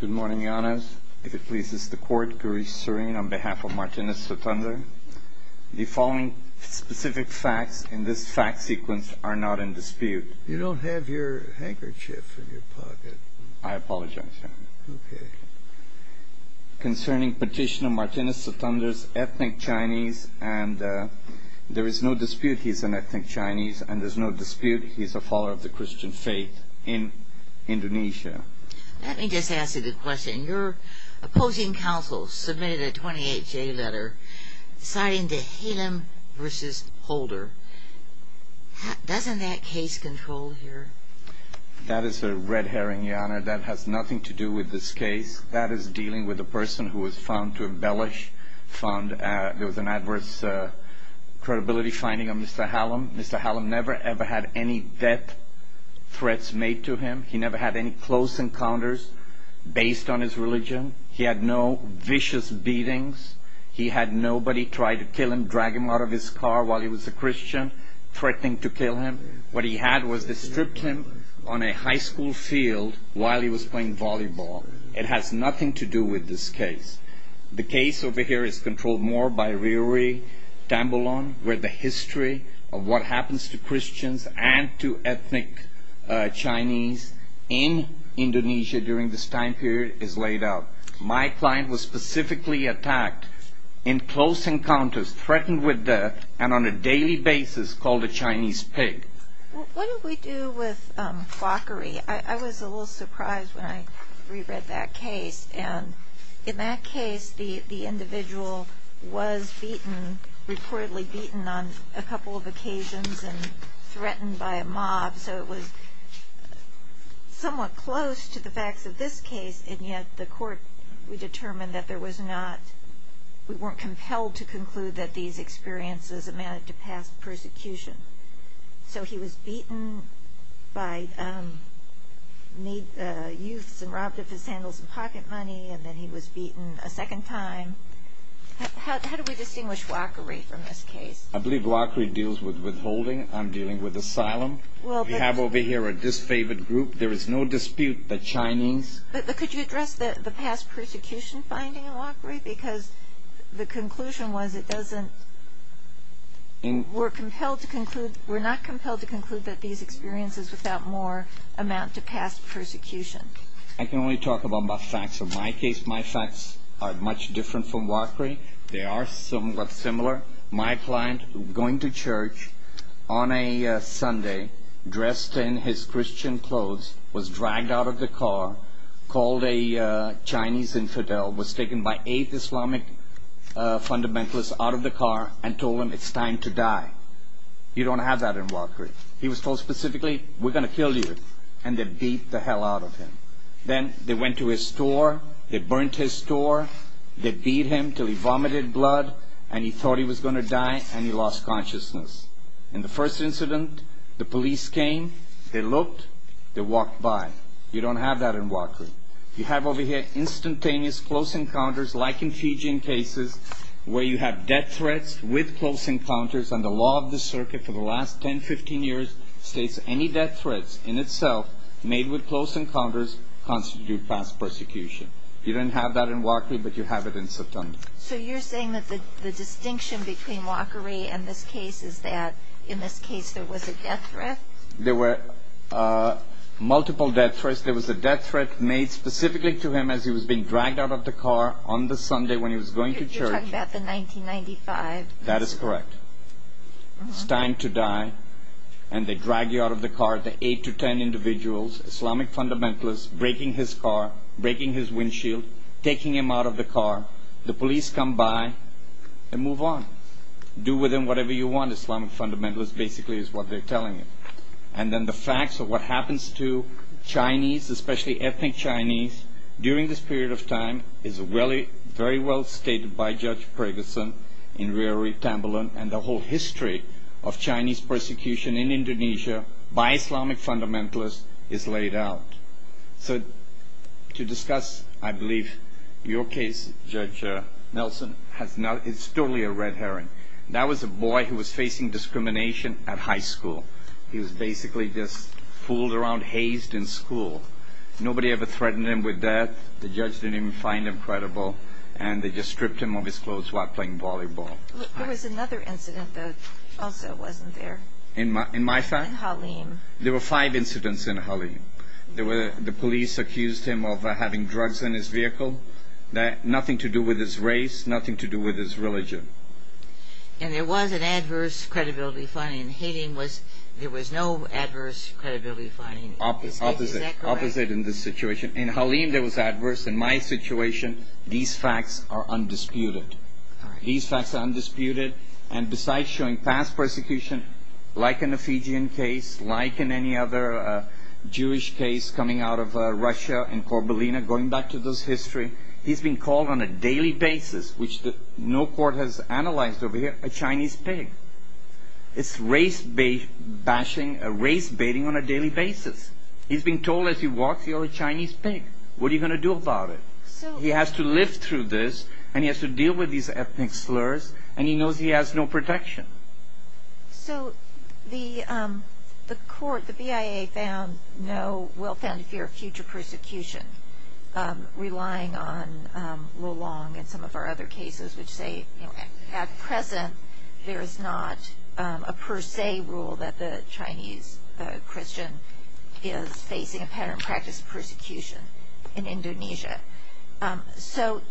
Good morning, Your Honors. If it pleases the Court, Gaurish Srin, on behalf of Martinis Suthandar, the following specific facts in this fact sequence are not in dispute. You don't have your handkerchief in your pocket. I apologize, Your Honor. Okay. Concerning Petitioner Martinis Suthandar's ethnic Chinese, and there is no dispute he is an ethnic Chinese, and there is no dispute he is a follower of the Christian faith in Indonesia. Let me just ask you the question. Your opposing counsel submitted a 28-J letter citing the Halem v. Holder. Doesn't that case control here? That is a red herring, Your Honor. That has nothing to do with this case. That is dealing with a person who was found to embellish, found there was an adverse credibility finding of Mr. Halem. Mr. Halem never, ever had any death threats made to him. He never had any close encounters based on his religion. He had no vicious beatings. He had nobody try to kill him, drag him out of his car while he was a Christian, threatening to kill him. What he had was they stripped him on a high school field while he was playing volleyball. It has nothing to do with this case. The case over here is controlled more by Riri Tambalon, where the history of what happens to Christians and to ethnic Chinese in Indonesia during this time period is laid out. My client was specifically attacked in close encounters, threatened with death, and on a daily basis called a Chinese pig. What do we do with Fokkeri? I was a little surprised when I reread that case. In that case, the individual was beaten, reportedly beaten on a couple of occasions and threatened by a mob. It was somewhat close to the facts of this case, and yet the court determined that we weren't compelled to conclude that these experiences amounted to past persecution. So he was beaten by youths and robbed of his sandals and pocket money, and then he was beaten a second time. How do we distinguish Fokkeri from this case? I believe Fokkeri deals with withholding. I'm dealing with asylum. We have over here a disfavored group. There is no dispute that Chinese... But could you address the past persecution finding in Fokkeri? Because the conclusion was it doesn't... We're compelled to conclude... We're not compelled to conclude that these experiences without more amount to past persecution. I can only talk about my facts. In my case, my facts are much different from Fokkeri. They are somewhat similar. My client, going to church on a Sunday, dressed in his Christian clothes, was dragged out of the car, called a Chinese infidel, was taken by eight Islamic fundamentalists out of the car and told them, it's time to die. You don't have that in Fokkeri. He was told specifically, we're going to kill you. And they beat the hell out of him. Then they went to his store. They burnt his store. They beat him till he vomited blood and he thought he was going to die and he lost consciousness. In the first incident, the police came. They looked. They walked by. You don't have that in Fokkeri. You have over here instantaneous close encounters like in Fijian cases where you have death threats with close encounters. And the law of the circuit for the last 10, 15 years states any death threats in itself made with close encounters constitute past persecution. You don't have that in Fokkeri, but you have it in September. So you're saying that the distinction between Fokkeri and this case is that in this case there was a death threat? There were multiple death threats. There was a death threat made specifically to him as he was being dragged out of the car on the Sunday when he was going to church. You're talking about the 1995. That is correct. It's time to die and they drag you out of the car. The 8 to 10 individuals, Islamic fundamentalists, breaking his car, breaking his windshield, taking him out of the car. The police come by and move on. Do with them whatever you want. The Islamic fundamentalist basically is what they're telling you. And then the facts of what happens to Chinese, especially ethnic Chinese, during this period of time is very well stated by Judge Preggison in Rewry Tamblyn and the whole history of Chinese persecution in Indonesia by Islamic fundamentalists is laid out. So to discuss, I believe, your case, Judge Nelson, it's totally a red herring. That was a boy who was facing discrimination at high school. He was basically just fooled around, hazed in school. Nobody ever threatened him with death. The judge didn't even find him credible. And they just stripped him of his clothes while playing volleyball. There was another incident that also wasn't there. In my fact? In Halim. There were five incidents in Halim. The police accused him of having drugs in his vehicle. Nothing to do with his race. Nothing to do with his religion. And there was an adverse credibility finding. In Halim, there was no adverse credibility finding. Is that correct? Opposite in this situation. In Halim, there was adverse. In my situation, these facts are undisputed. These facts are undisputed. And besides showing past persecution, like in the Fijian case, like in any other Jewish case coming out of Russia and Korbelina, going back to this history, he's been called on a daily basis, which no court has analyzed over here, a Chinese pig. It's race-bashing, race-baiting on a daily basis. He's been told as he walks, you're a Chinese pig. What are you going to do about it? He has to live through this, and he has to deal with these ethnic slurs, and he knows he has no protection. So the court, the BIA, found no well-founded fear of future persecution, relying on Rulong and some of our other cases, which say, at present, there is not a per se rule that the Chinese Christian is facing a pattern of practice of persecution in Indonesia. So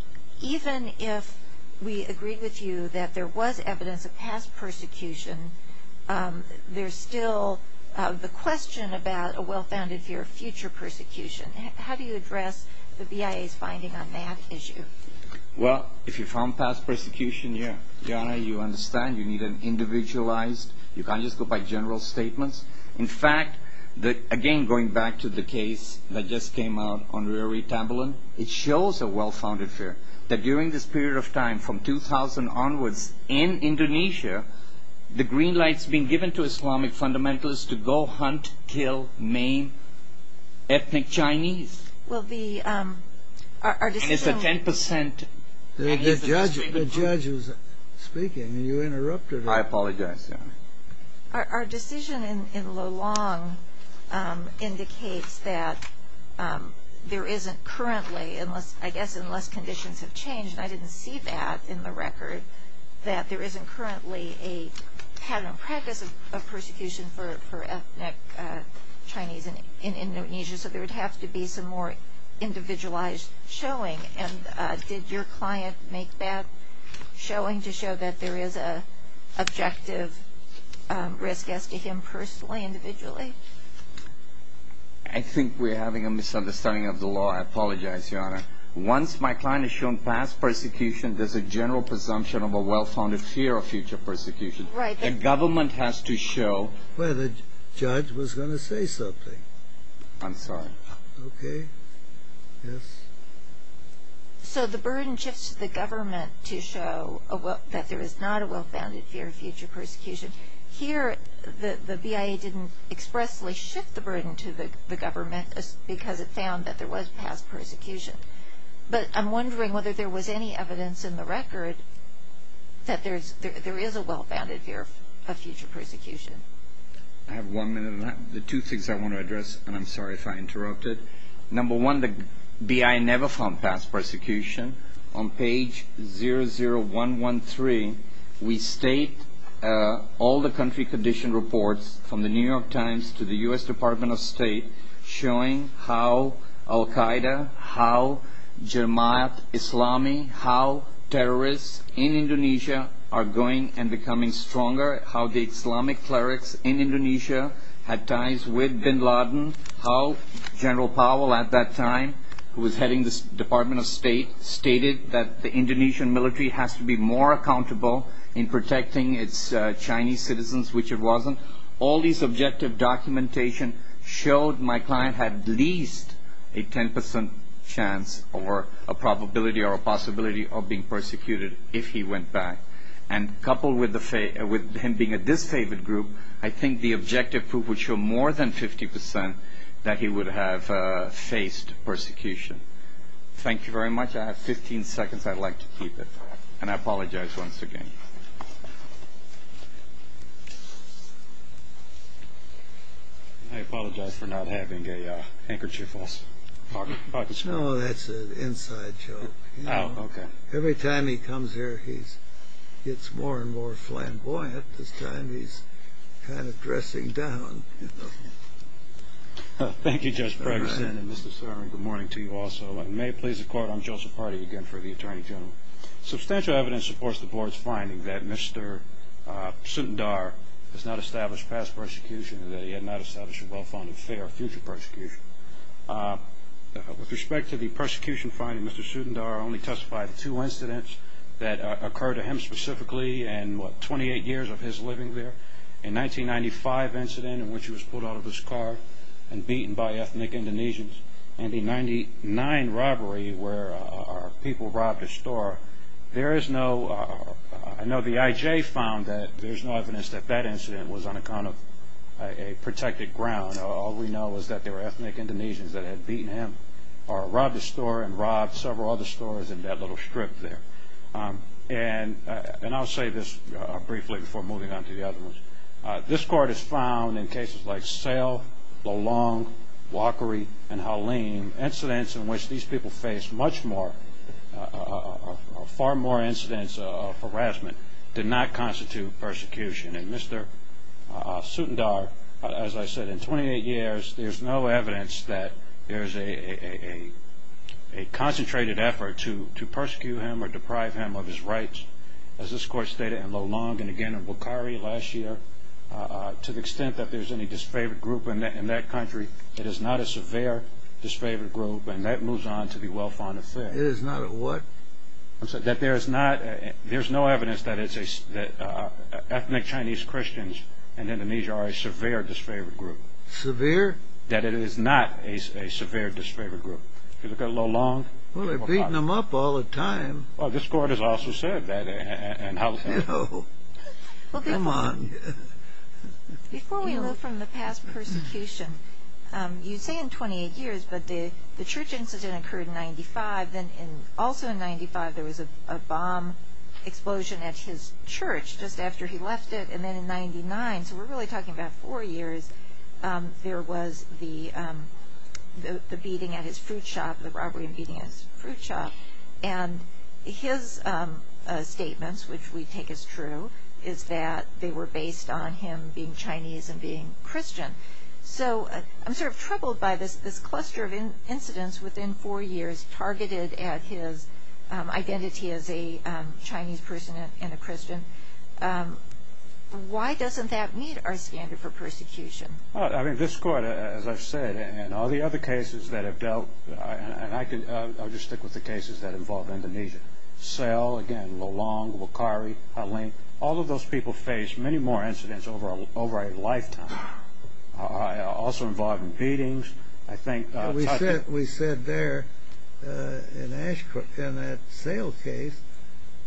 even if we agreed with you that there was evidence of past persecution, there's still the question about a well-founded fear of future persecution. How do you address the BIA's finding on that issue? Well, if you found past persecution, you understand you need an individualized, you can't just go by general statements. In fact, again, going back to the case that just came out on Rory Tamblyn, it shows a well-founded fear that during this period of time, from 2000 onwards, in Indonesia, the green light's been given to Islamic fundamentalists to go hunt, kill, maim ethnic Chinese. And it's a 10%... The judge who's speaking, you interrupted her. I apologize, Your Honor. Our decision in Lulong indicates that there isn't currently, I guess unless conditions have changed, and I didn't see that in the record, that there isn't currently a pattern of practice of persecution for ethnic Chinese in Indonesia. So there would have to be some more individualized showing. And did your client make that showing to show that there is an objective risk as to him personally, individually? I think we're having a misunderstanding of the law. I apologize, Your Honor. Once my client is shown past persecution, there's a general presumption of a well-founded fear of future persecution. The government has to show... Well, the judge was going to say something. I'm sorry. Okay. Yes. So the burden shifts to the government to show that there is not a well-founded fear of future persecution. Here, the BIA didn't expressly shift the burden to the government because it found that there was past persecution. But I'm wondering whether there was any evidence in the record that there is a well-founded fear of future persecution. I have one minute on that. The two things I want to address, and I'm sorry if I interrupted. Number one, the BIA never found past persecution. On page 00113, we state all the country condition reports from the New York Times to the U.S. Department of State showing how Al-Qaeda, how Jemaat Islami, how terrorists in Indonesia are going and becoming stronger, how the Islamic clerics in Indonesia had ties with bin Laden, how General Powell at that time, who was heading the Department of State, stated that the Indonesian military has to be more accountable in protecting its Chinese citizens, which it wasn't. All these objective documentation showed my client had at least a 10% chance or a probability or a possibility of being persecuted if he went back. And coupled with him being a disfavored group, I think the objective proof would show more than 50% that he would have faced persecution. Thank you very much. I have 15 seconds. I'd like to keep it. And I apologize once again. I apologize for not having a handkerchief also. No, that's an inside joke. Every time he comes here, he gets more and more flamboyant. This time he's kind of dressing down. Thank you, Judge Pregson, and Mr. Sorensen, good morning to you also. And may it please the Court, I'm Joseph Hardy again for the Attorney General. Substantial evidence supports the Board's finding that Mr. Sundar has not established past persecution and that he had not established a well-founded fear of future persecution. With respect to the persecution finding, Mr. Sundar only testified to two incidents that occurred to him specifically in, what, 28 years of his living there. A 1995 incident in which he was pulled out of his car and beaten by ethnic Indonesians and a 1999 robbery where people robbed a store. There is no, I know the IJ found that there's no evidence that that incident was on account of a protected ground. All we know is that there were ethnic Indonesians that had beaten him or robbed a store and robbed several other stores in that little strip there. And I'll say this briefly before moving on to the other ones. This Court has found in cases like Sale, Lolong, Walkery, and Halim, incidents in which these people faced much more, far more incidents of harassment did not constitute persecution. And Mr. Sundar, as I said, in 28 years there's no evidence that there's a concentrated effort to persecute him or deprive him of his rights. As this Court stated in Lolong and again in Walkery last year, to the extent that there's any disfavored group in that country, it is not a severe disfavored group and that moves on to be well-founded fear. It is not a what? That there is not, there's no evidence that ethnic Chinese Christians in Indonesia are a severe disfavored group. Severe? That it is not a severe disfavored group. If you look at Lolong. Well, they're beating him up all the time. Well, this Court has also said that in Halim. Come on. Before we move from the past persecution, you say in 28 years, but the church incident occurred in 95. Then also in 95 there was a bomb explosion at his church just after he left it. And then in 99, so we're really talking about four years, there was the beating at his fruit shop, the robbery and beating at his fruit shop. And his statements, which we take as true, is that they were based on him being Chinese and being Christian. So I'm sort of troubled by this cluster of incidents within four years targeted at his identity as a Chinese person and a Christian. Why doesn't that meet our standard for persecution? I mean, this Court, as I've said, and all the other cases that have dealt, and I'll just stick with the cases that involve Indonesia. All of those people faced many more incidents over a lifetime. Also involved in beatings. We said there in that sale case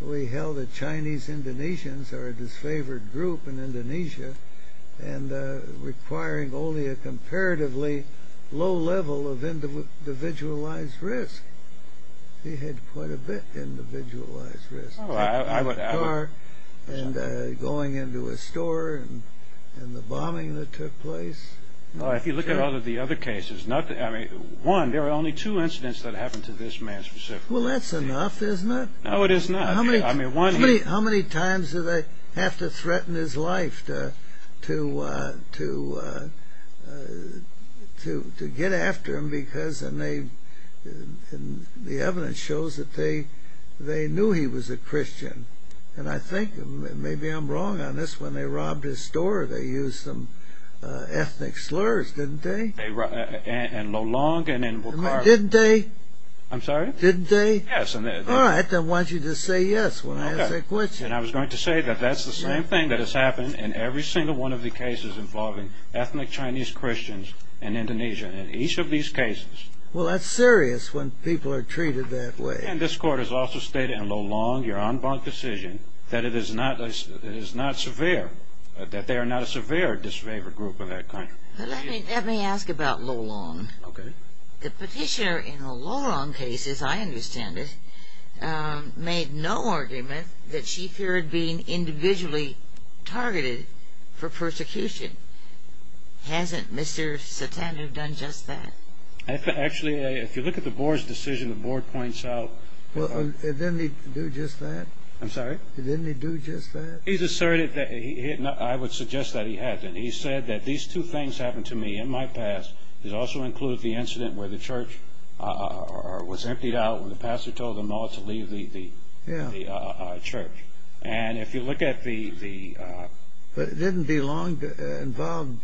we held that Chinese Indonesians are a disfavored group in Indonesia and requiring only a comparatively low level of individualized risk. He had quite a bit of individualized risk. A car and going into a store and the bombing that took place. If you look at all of the other cases, one, there are only two incidents that happened to this man specifically. Well, that's enough, isn't it? No, it is not. How many times do they have to threaten his life to get after him? The evidence shows that they knew he was a Christian. And I think, and maybe I'm wrong on this, when they robbed his store they used some ethnic slurs, didn't they? In Lelong and in Wakar. Didn't they? I'm sorry? Didn't they? Yes. All right, then I want you to say yes when I ask that question. And I was going to say that that's the same thing that has happened in every single one of the cases involving ethnic Chinese Christians in Indonesia. In each of these cases. Well, that's serious when people are treated that way. And this Court has also stated in Lelong, your en banc decision, that it is not severe, that they are not a severe disfavored group in that country. Let me ask about Lelong. Okay. The petitioner in the Lelong case, as I understand it, made no argument that she feared being individually targeted for persecution. Hasn't Mr. Satanu done just that? Actually, if you look at the Board's decision, the Board points out... Well, didn't he do just that? I'm sorry? Didn't he do just that? He's asserted that, I would suggest that he hasn't. He said that these two things happened to me in my past. It also includes the incident where the church was emptied out when the pastor told them all to leave the church. And if you look at the... But didn't Lelong involve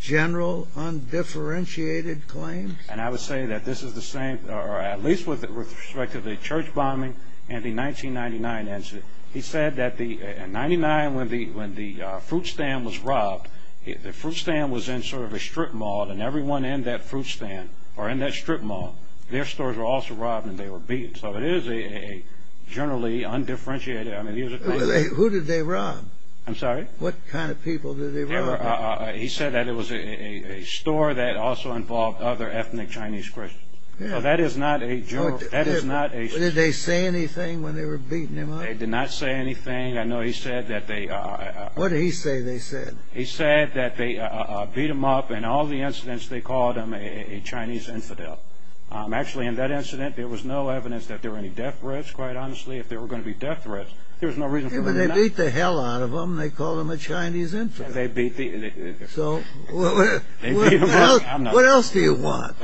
general undifferentiated claims? And I would say that this is the same, or at least with respect to the church bombing and the 1999 incident, he said that in 1999 when the fruit stand was robbed, the fruit stand was in sort of a strip mall, and everyone in that fruit stand or in that strip mall, their stores were also robbed and they were beaten. So it is a generally undifferentiated... Who did they rob? I'm sorry? What kind of people did they rob? He said that it was a store that also involved other ethnic Chinese Christians. That is not a joke. Did they say anything when they were beating him up? They did not say anything. I know he said that they... What did he say they said? He said that they beat him up, and in all the incidents they called him a Chinese infidel. Actually, in that incident, there was no evidence that there were any death threats, quite honestly. If there were going to be death threats, there was no reason for them not to. They beat the hell out of him. They called him a Chinese infidel. What else do you want?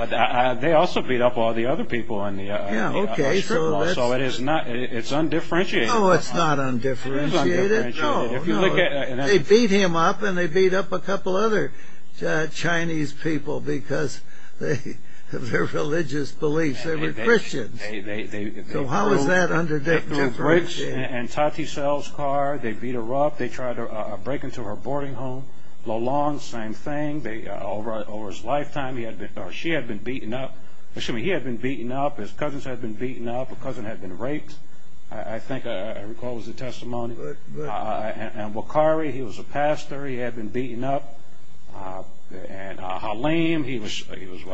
They also beat up all the other people in the strip mall, so it's undifferentiated. Oh, it's not undifferentiated. They beat him up, and they beat up a couple other Chinese people because of their religious beliefs. They were Christians. So how is that undifferentiated? They broke Auntie Sal's car. They beat her up. They tried to break into her boarding home. Lo Long, same thing. Over his lifetime, she had been beaten up. Excuse me. He had been beaten up. His cousins had been beaten up. A cousin had been raped, I think. I recall it was a testimony. Wakari, he was a pastor. He had been beaten up. Halim, he was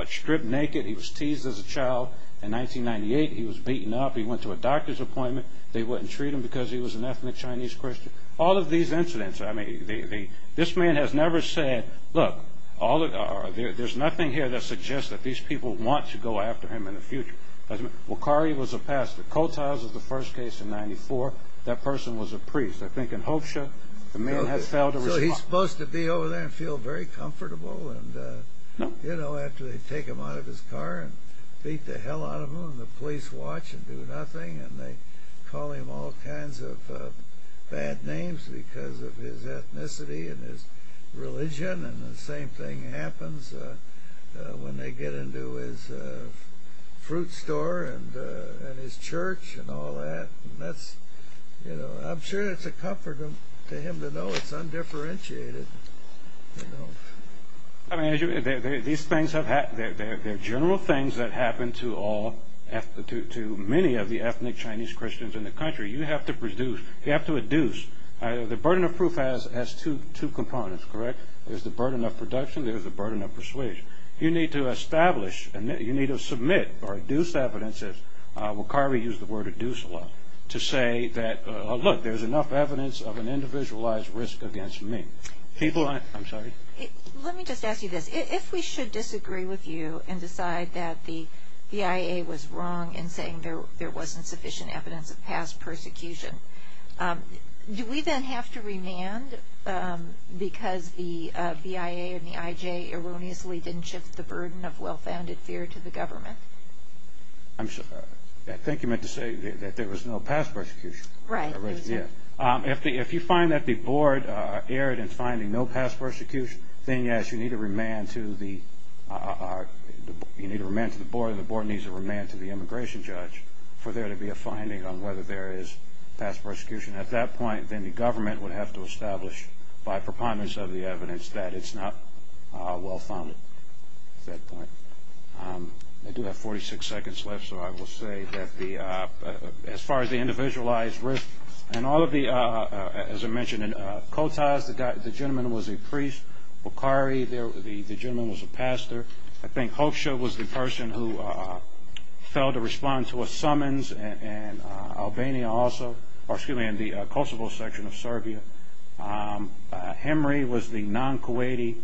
stripped naked. He was teased as a child. In 1998, he was beaten up. He went to a doctor's appointment. They wouldn't treat him because he was an ethnic Chinese Christian. All of these incidents, I mean, this man has never said, look, there's nothing here that suggests that these people want to go after him in the future. Wakari was a pastor. Kotiles was the first case in 1994. That person was a priest. I think in Hopsia, the man had failed to respond. So he's supposed to be over there and feel very comfortable, you know, after they take him out of his car and beat the hell out of him and the police watch and do nothing and they call him all kinds of bad names because of his ethnicity and his religion and the same thing happens when they get into his fruit store and his church and all that. And that's, you know, I'm sure it's a comfort to him to know it's undifferentiated, you know. I mean, these things have happened. They're general things that happen to all, to many of the ethnic Chinese Christians in the country. You have to produce, you have to adduce. The burden of proof has two components, correct? There's the burden of production. There's the burden of persuasion. You need to establish, you need to submit or adduce evidences. Wakari used the word adduce a lot to say that, look, there's enough evidence of an individualized risk against me. People, I'm sorry. Let me just ask you this. If we should disagree with you and decide that the BIA was wrong in saying there wasn't sufficient evidence of past persecution, do we then have to remand because the BIA and the IJ erroneously didn't shift the burden of well-founded fear to the government? I'm sorry. I think you meant to say that there was no past persecution. Right. If you find that the board erred in finding no past persecution, then yes, you need to remand to the board, and the board needs to remand to the immigration judge for there to be a finding on whether there is past persecution. At that point, then the government would have to establish by preponderance of the evidence that it's not well-founded at that point. I do have 46 seconds left, so I will say that as far as the individualized risk and all of the, as I mentioned, in Kotaz, the gentleman was a priest. Bukhari, the gentleman was a pastor. I think Hoxha was the person who fell to respond to a summons in Albania also, or excuse me, in the Kosovo section of Serbia. Hemry was the non-Kuwaiti.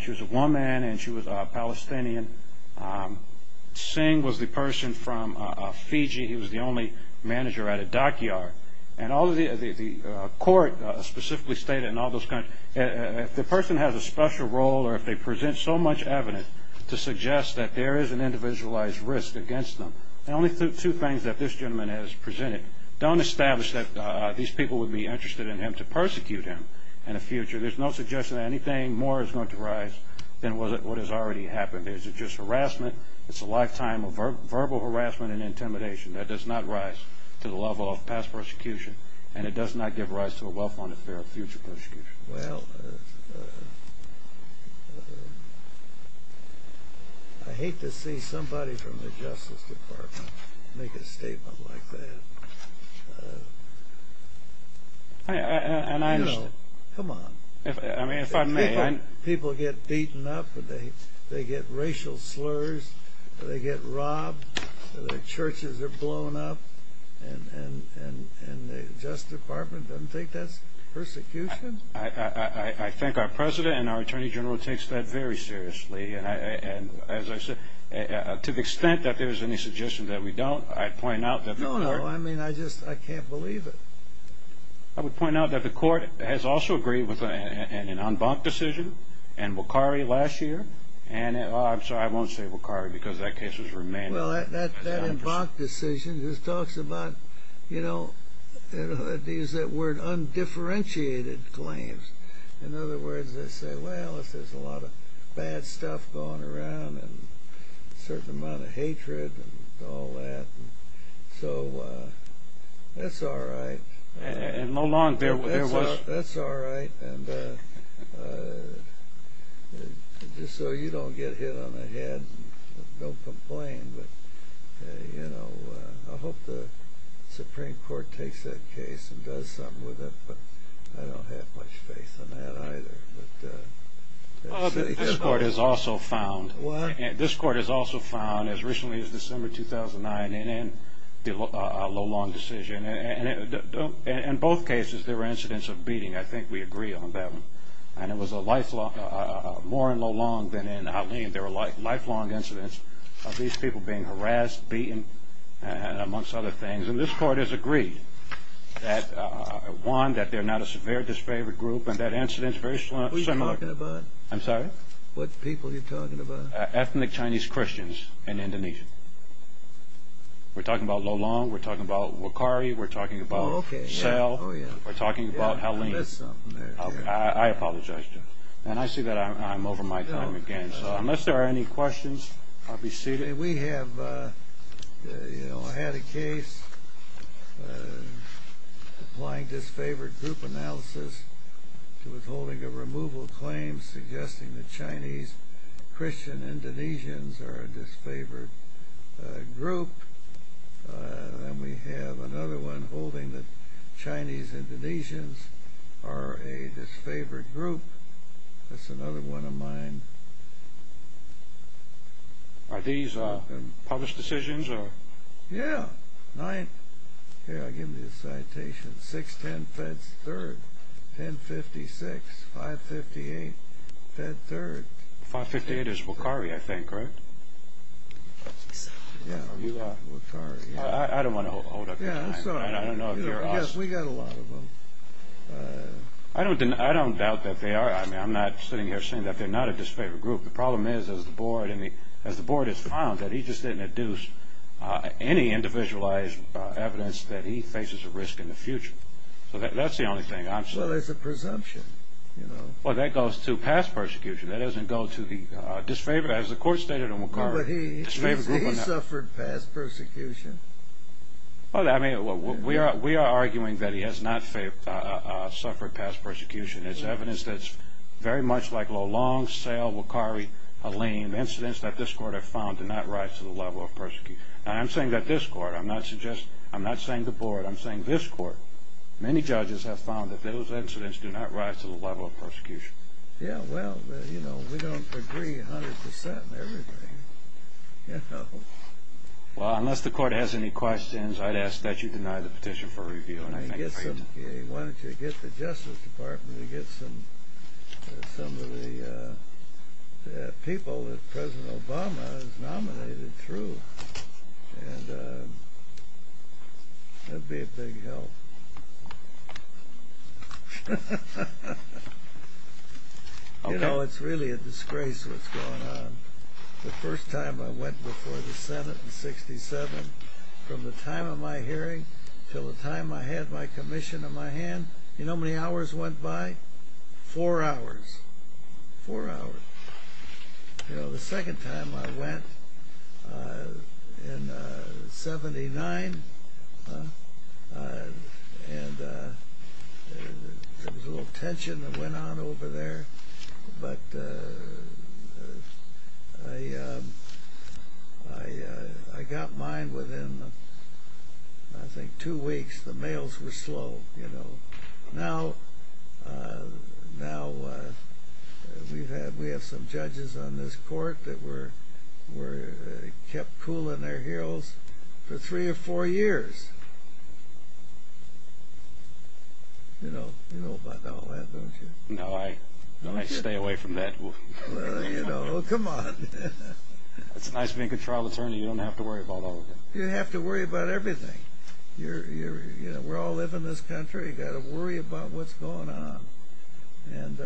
She was a woman, and she was a Palestinian. Singh was the person from Fiji. He was the only manager at a dockyard. And all of the, the court specifically stated in all those countries, if the person has a special role or if they present so much evidence to suggest that there is an individualized risk against them, then only two things that this gentleman has presented. Don't establish that these people would be interested in him to persecute him in the future. There's no suggestion that anything more is going to arise than what has already happened. Is it just harassment? It's a lifetime of verbal harassment and intimidation. That does not rise to the level of past persecution, and it does not give rise to a well-founded fear of future persecution. Well, I hate to see somebody from the Justice Department make a statement like that. You know, come on. People get beaten up, or they get racial slurs, or they get robbed, or their churches are blown up, and the Justice Department doesn't think that's persecution? I think our President and our Attorney General take that very seriously. And to the extent that there is any suggestion that we don't, I'd point out that the court... No, no. I mean, I just can't believe it. I would point out that the court has also agreed with an en banc decision in Wakari last year, and I'm sorry, I won't say Wakari because that case has remained... Well, that en banc decision just talks about, you know, I use that word, undifferentiated claims. In other words, they say, well, there's a lot of bad stuff going around, and a certain amount of hatred, and all that. So, that's all right. And no longer there was... That's all right. And just so you don't get hit on the head, don't complain. But, you know, I hope the Supreme Court takes that case and does something with it, but I don't have much faith in that either. This court has also found... What? This court has also found, as recently as December 2009, in a low-long decision, in both cases, there were incidents of beating. I think we agree on that one. And it was more in low-long than in outlying. There were lifelong incidents of these people being harassed, beaten, amongst other things. And this court has agreed that, one, that they're not a severe disfavored group, and that incident is very similar... Who are you talking about? I'm sorry? What people are you talking about? Ethnic Chinese Christians in Indonesia. We're talking about low-long, we're talking about Wakari, we're talking about Sal, we're talking about Halim. I missed something there. I apologize, Jim. And I see that I'm over my time again, so unless there are any questions, I'll be seated. We have had a case applying disfavored group analysis to withholding a removal claim suggesting that Chinese Christian Indonesians are a disfavored group. And we have another one holding that Chinese Indonesians are a disfavored group. That's another one of mine. Are these published decisions? Yeah. Here, I'll give you a citation. 610 Feds 3rd, 1056, 558 Feds 3rd. 558 is Wakari, I think, right? Yeah, Wakari. I don't want to hold up your time. Yeah, I'm sorry. We got a lot of them. I don't doubt that they are. I'm not sitting here saying that they're not a disfavored group. The problem is, as the board has found, that he just didn't induce any individualized evidence that he faces a risk in the future. That's the only thing I'm saying. Well, it's a presumption. Well, that goes to past persecution. That doesn't go to the disfavored, as the court stated in Wakari. But he suffered past persecution. Well, we are arguing that he has not suffered past persecution. It's evidence that's very much like Lalonde, Sale, Wakari, Haleem. Incidents that this court have found do not rise to the level of persecution. Now, I'm saying that this court. I'm not saying the board. I'm saying this court. Many judges have found that those incidents do not rise to the level of persecution. Yeah, well, we don't agree 100% in everything. You know? Well, unless the court has any questions, I'd ask that you deny the petition for review. Why don't you get the Justice Department to get some of the people that President Obama has nominated through? And that would be a big help. You know, it's really a disgrace what's going on. The first time I went before the Senate in 67, from the time of my hearing until the time I had my commission in my hand. You know how many hours went by? Four hours. Four hours. You know, the second time I went in 79. And there was a little tension that went on over there. But I got mine within, I think, two weeks. The mails were slow. Now, we have some judges on this court that were kept cool in their heels for three or four years. You know about all that, don't you? No, I stay away from that. Well, you know, come on. It's nice being a trial attorney. You don't have to worry about all of it. You have to worry about everything. You know, we all live in this country. You've got to worry about what's going on. And,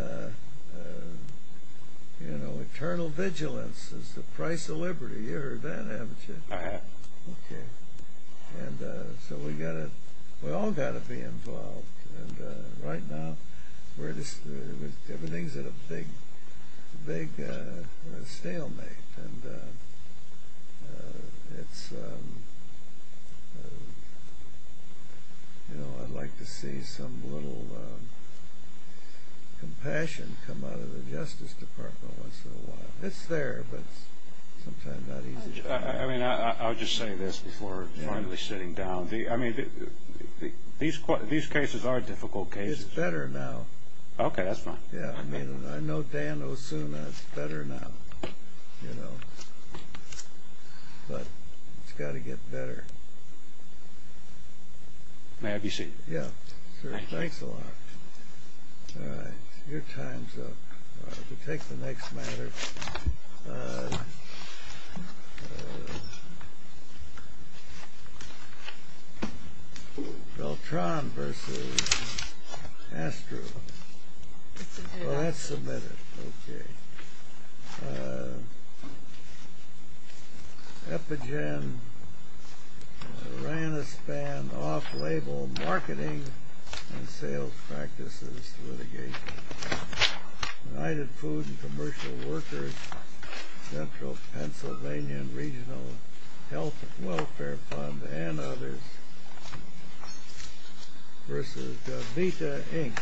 you know, eternal vigilance is the price of liberty. You've heard that, haven't you? I have. Okay. And so we've all got to be involved. And right now, everything's at a big stalemate. And it's, you know, I'd like to see some little compassion come out of the Justice Department once in a while. It's there, but sometimes not easy. I mean, I'll just say this before finally sitting down. I mean, these cases are difficult cases. It's better now. Okay, that's fine. Yeah, I mean, I know Dan Osuna. It's better now, you know. But it's got to get better. May I have your seat? Yeah, sure. Thank you. Thanks a lot. All right. Your time's up. We'll take the next matter. Beltran versus Astro. Well, that's submitted. Okay. Epigen ran a spanned off-label marketing and sales practices litigation. United Food and Commercial Workers, Central Pennsylvania Regional Health and Welfare Fund, and others. Versus Govita, Inc.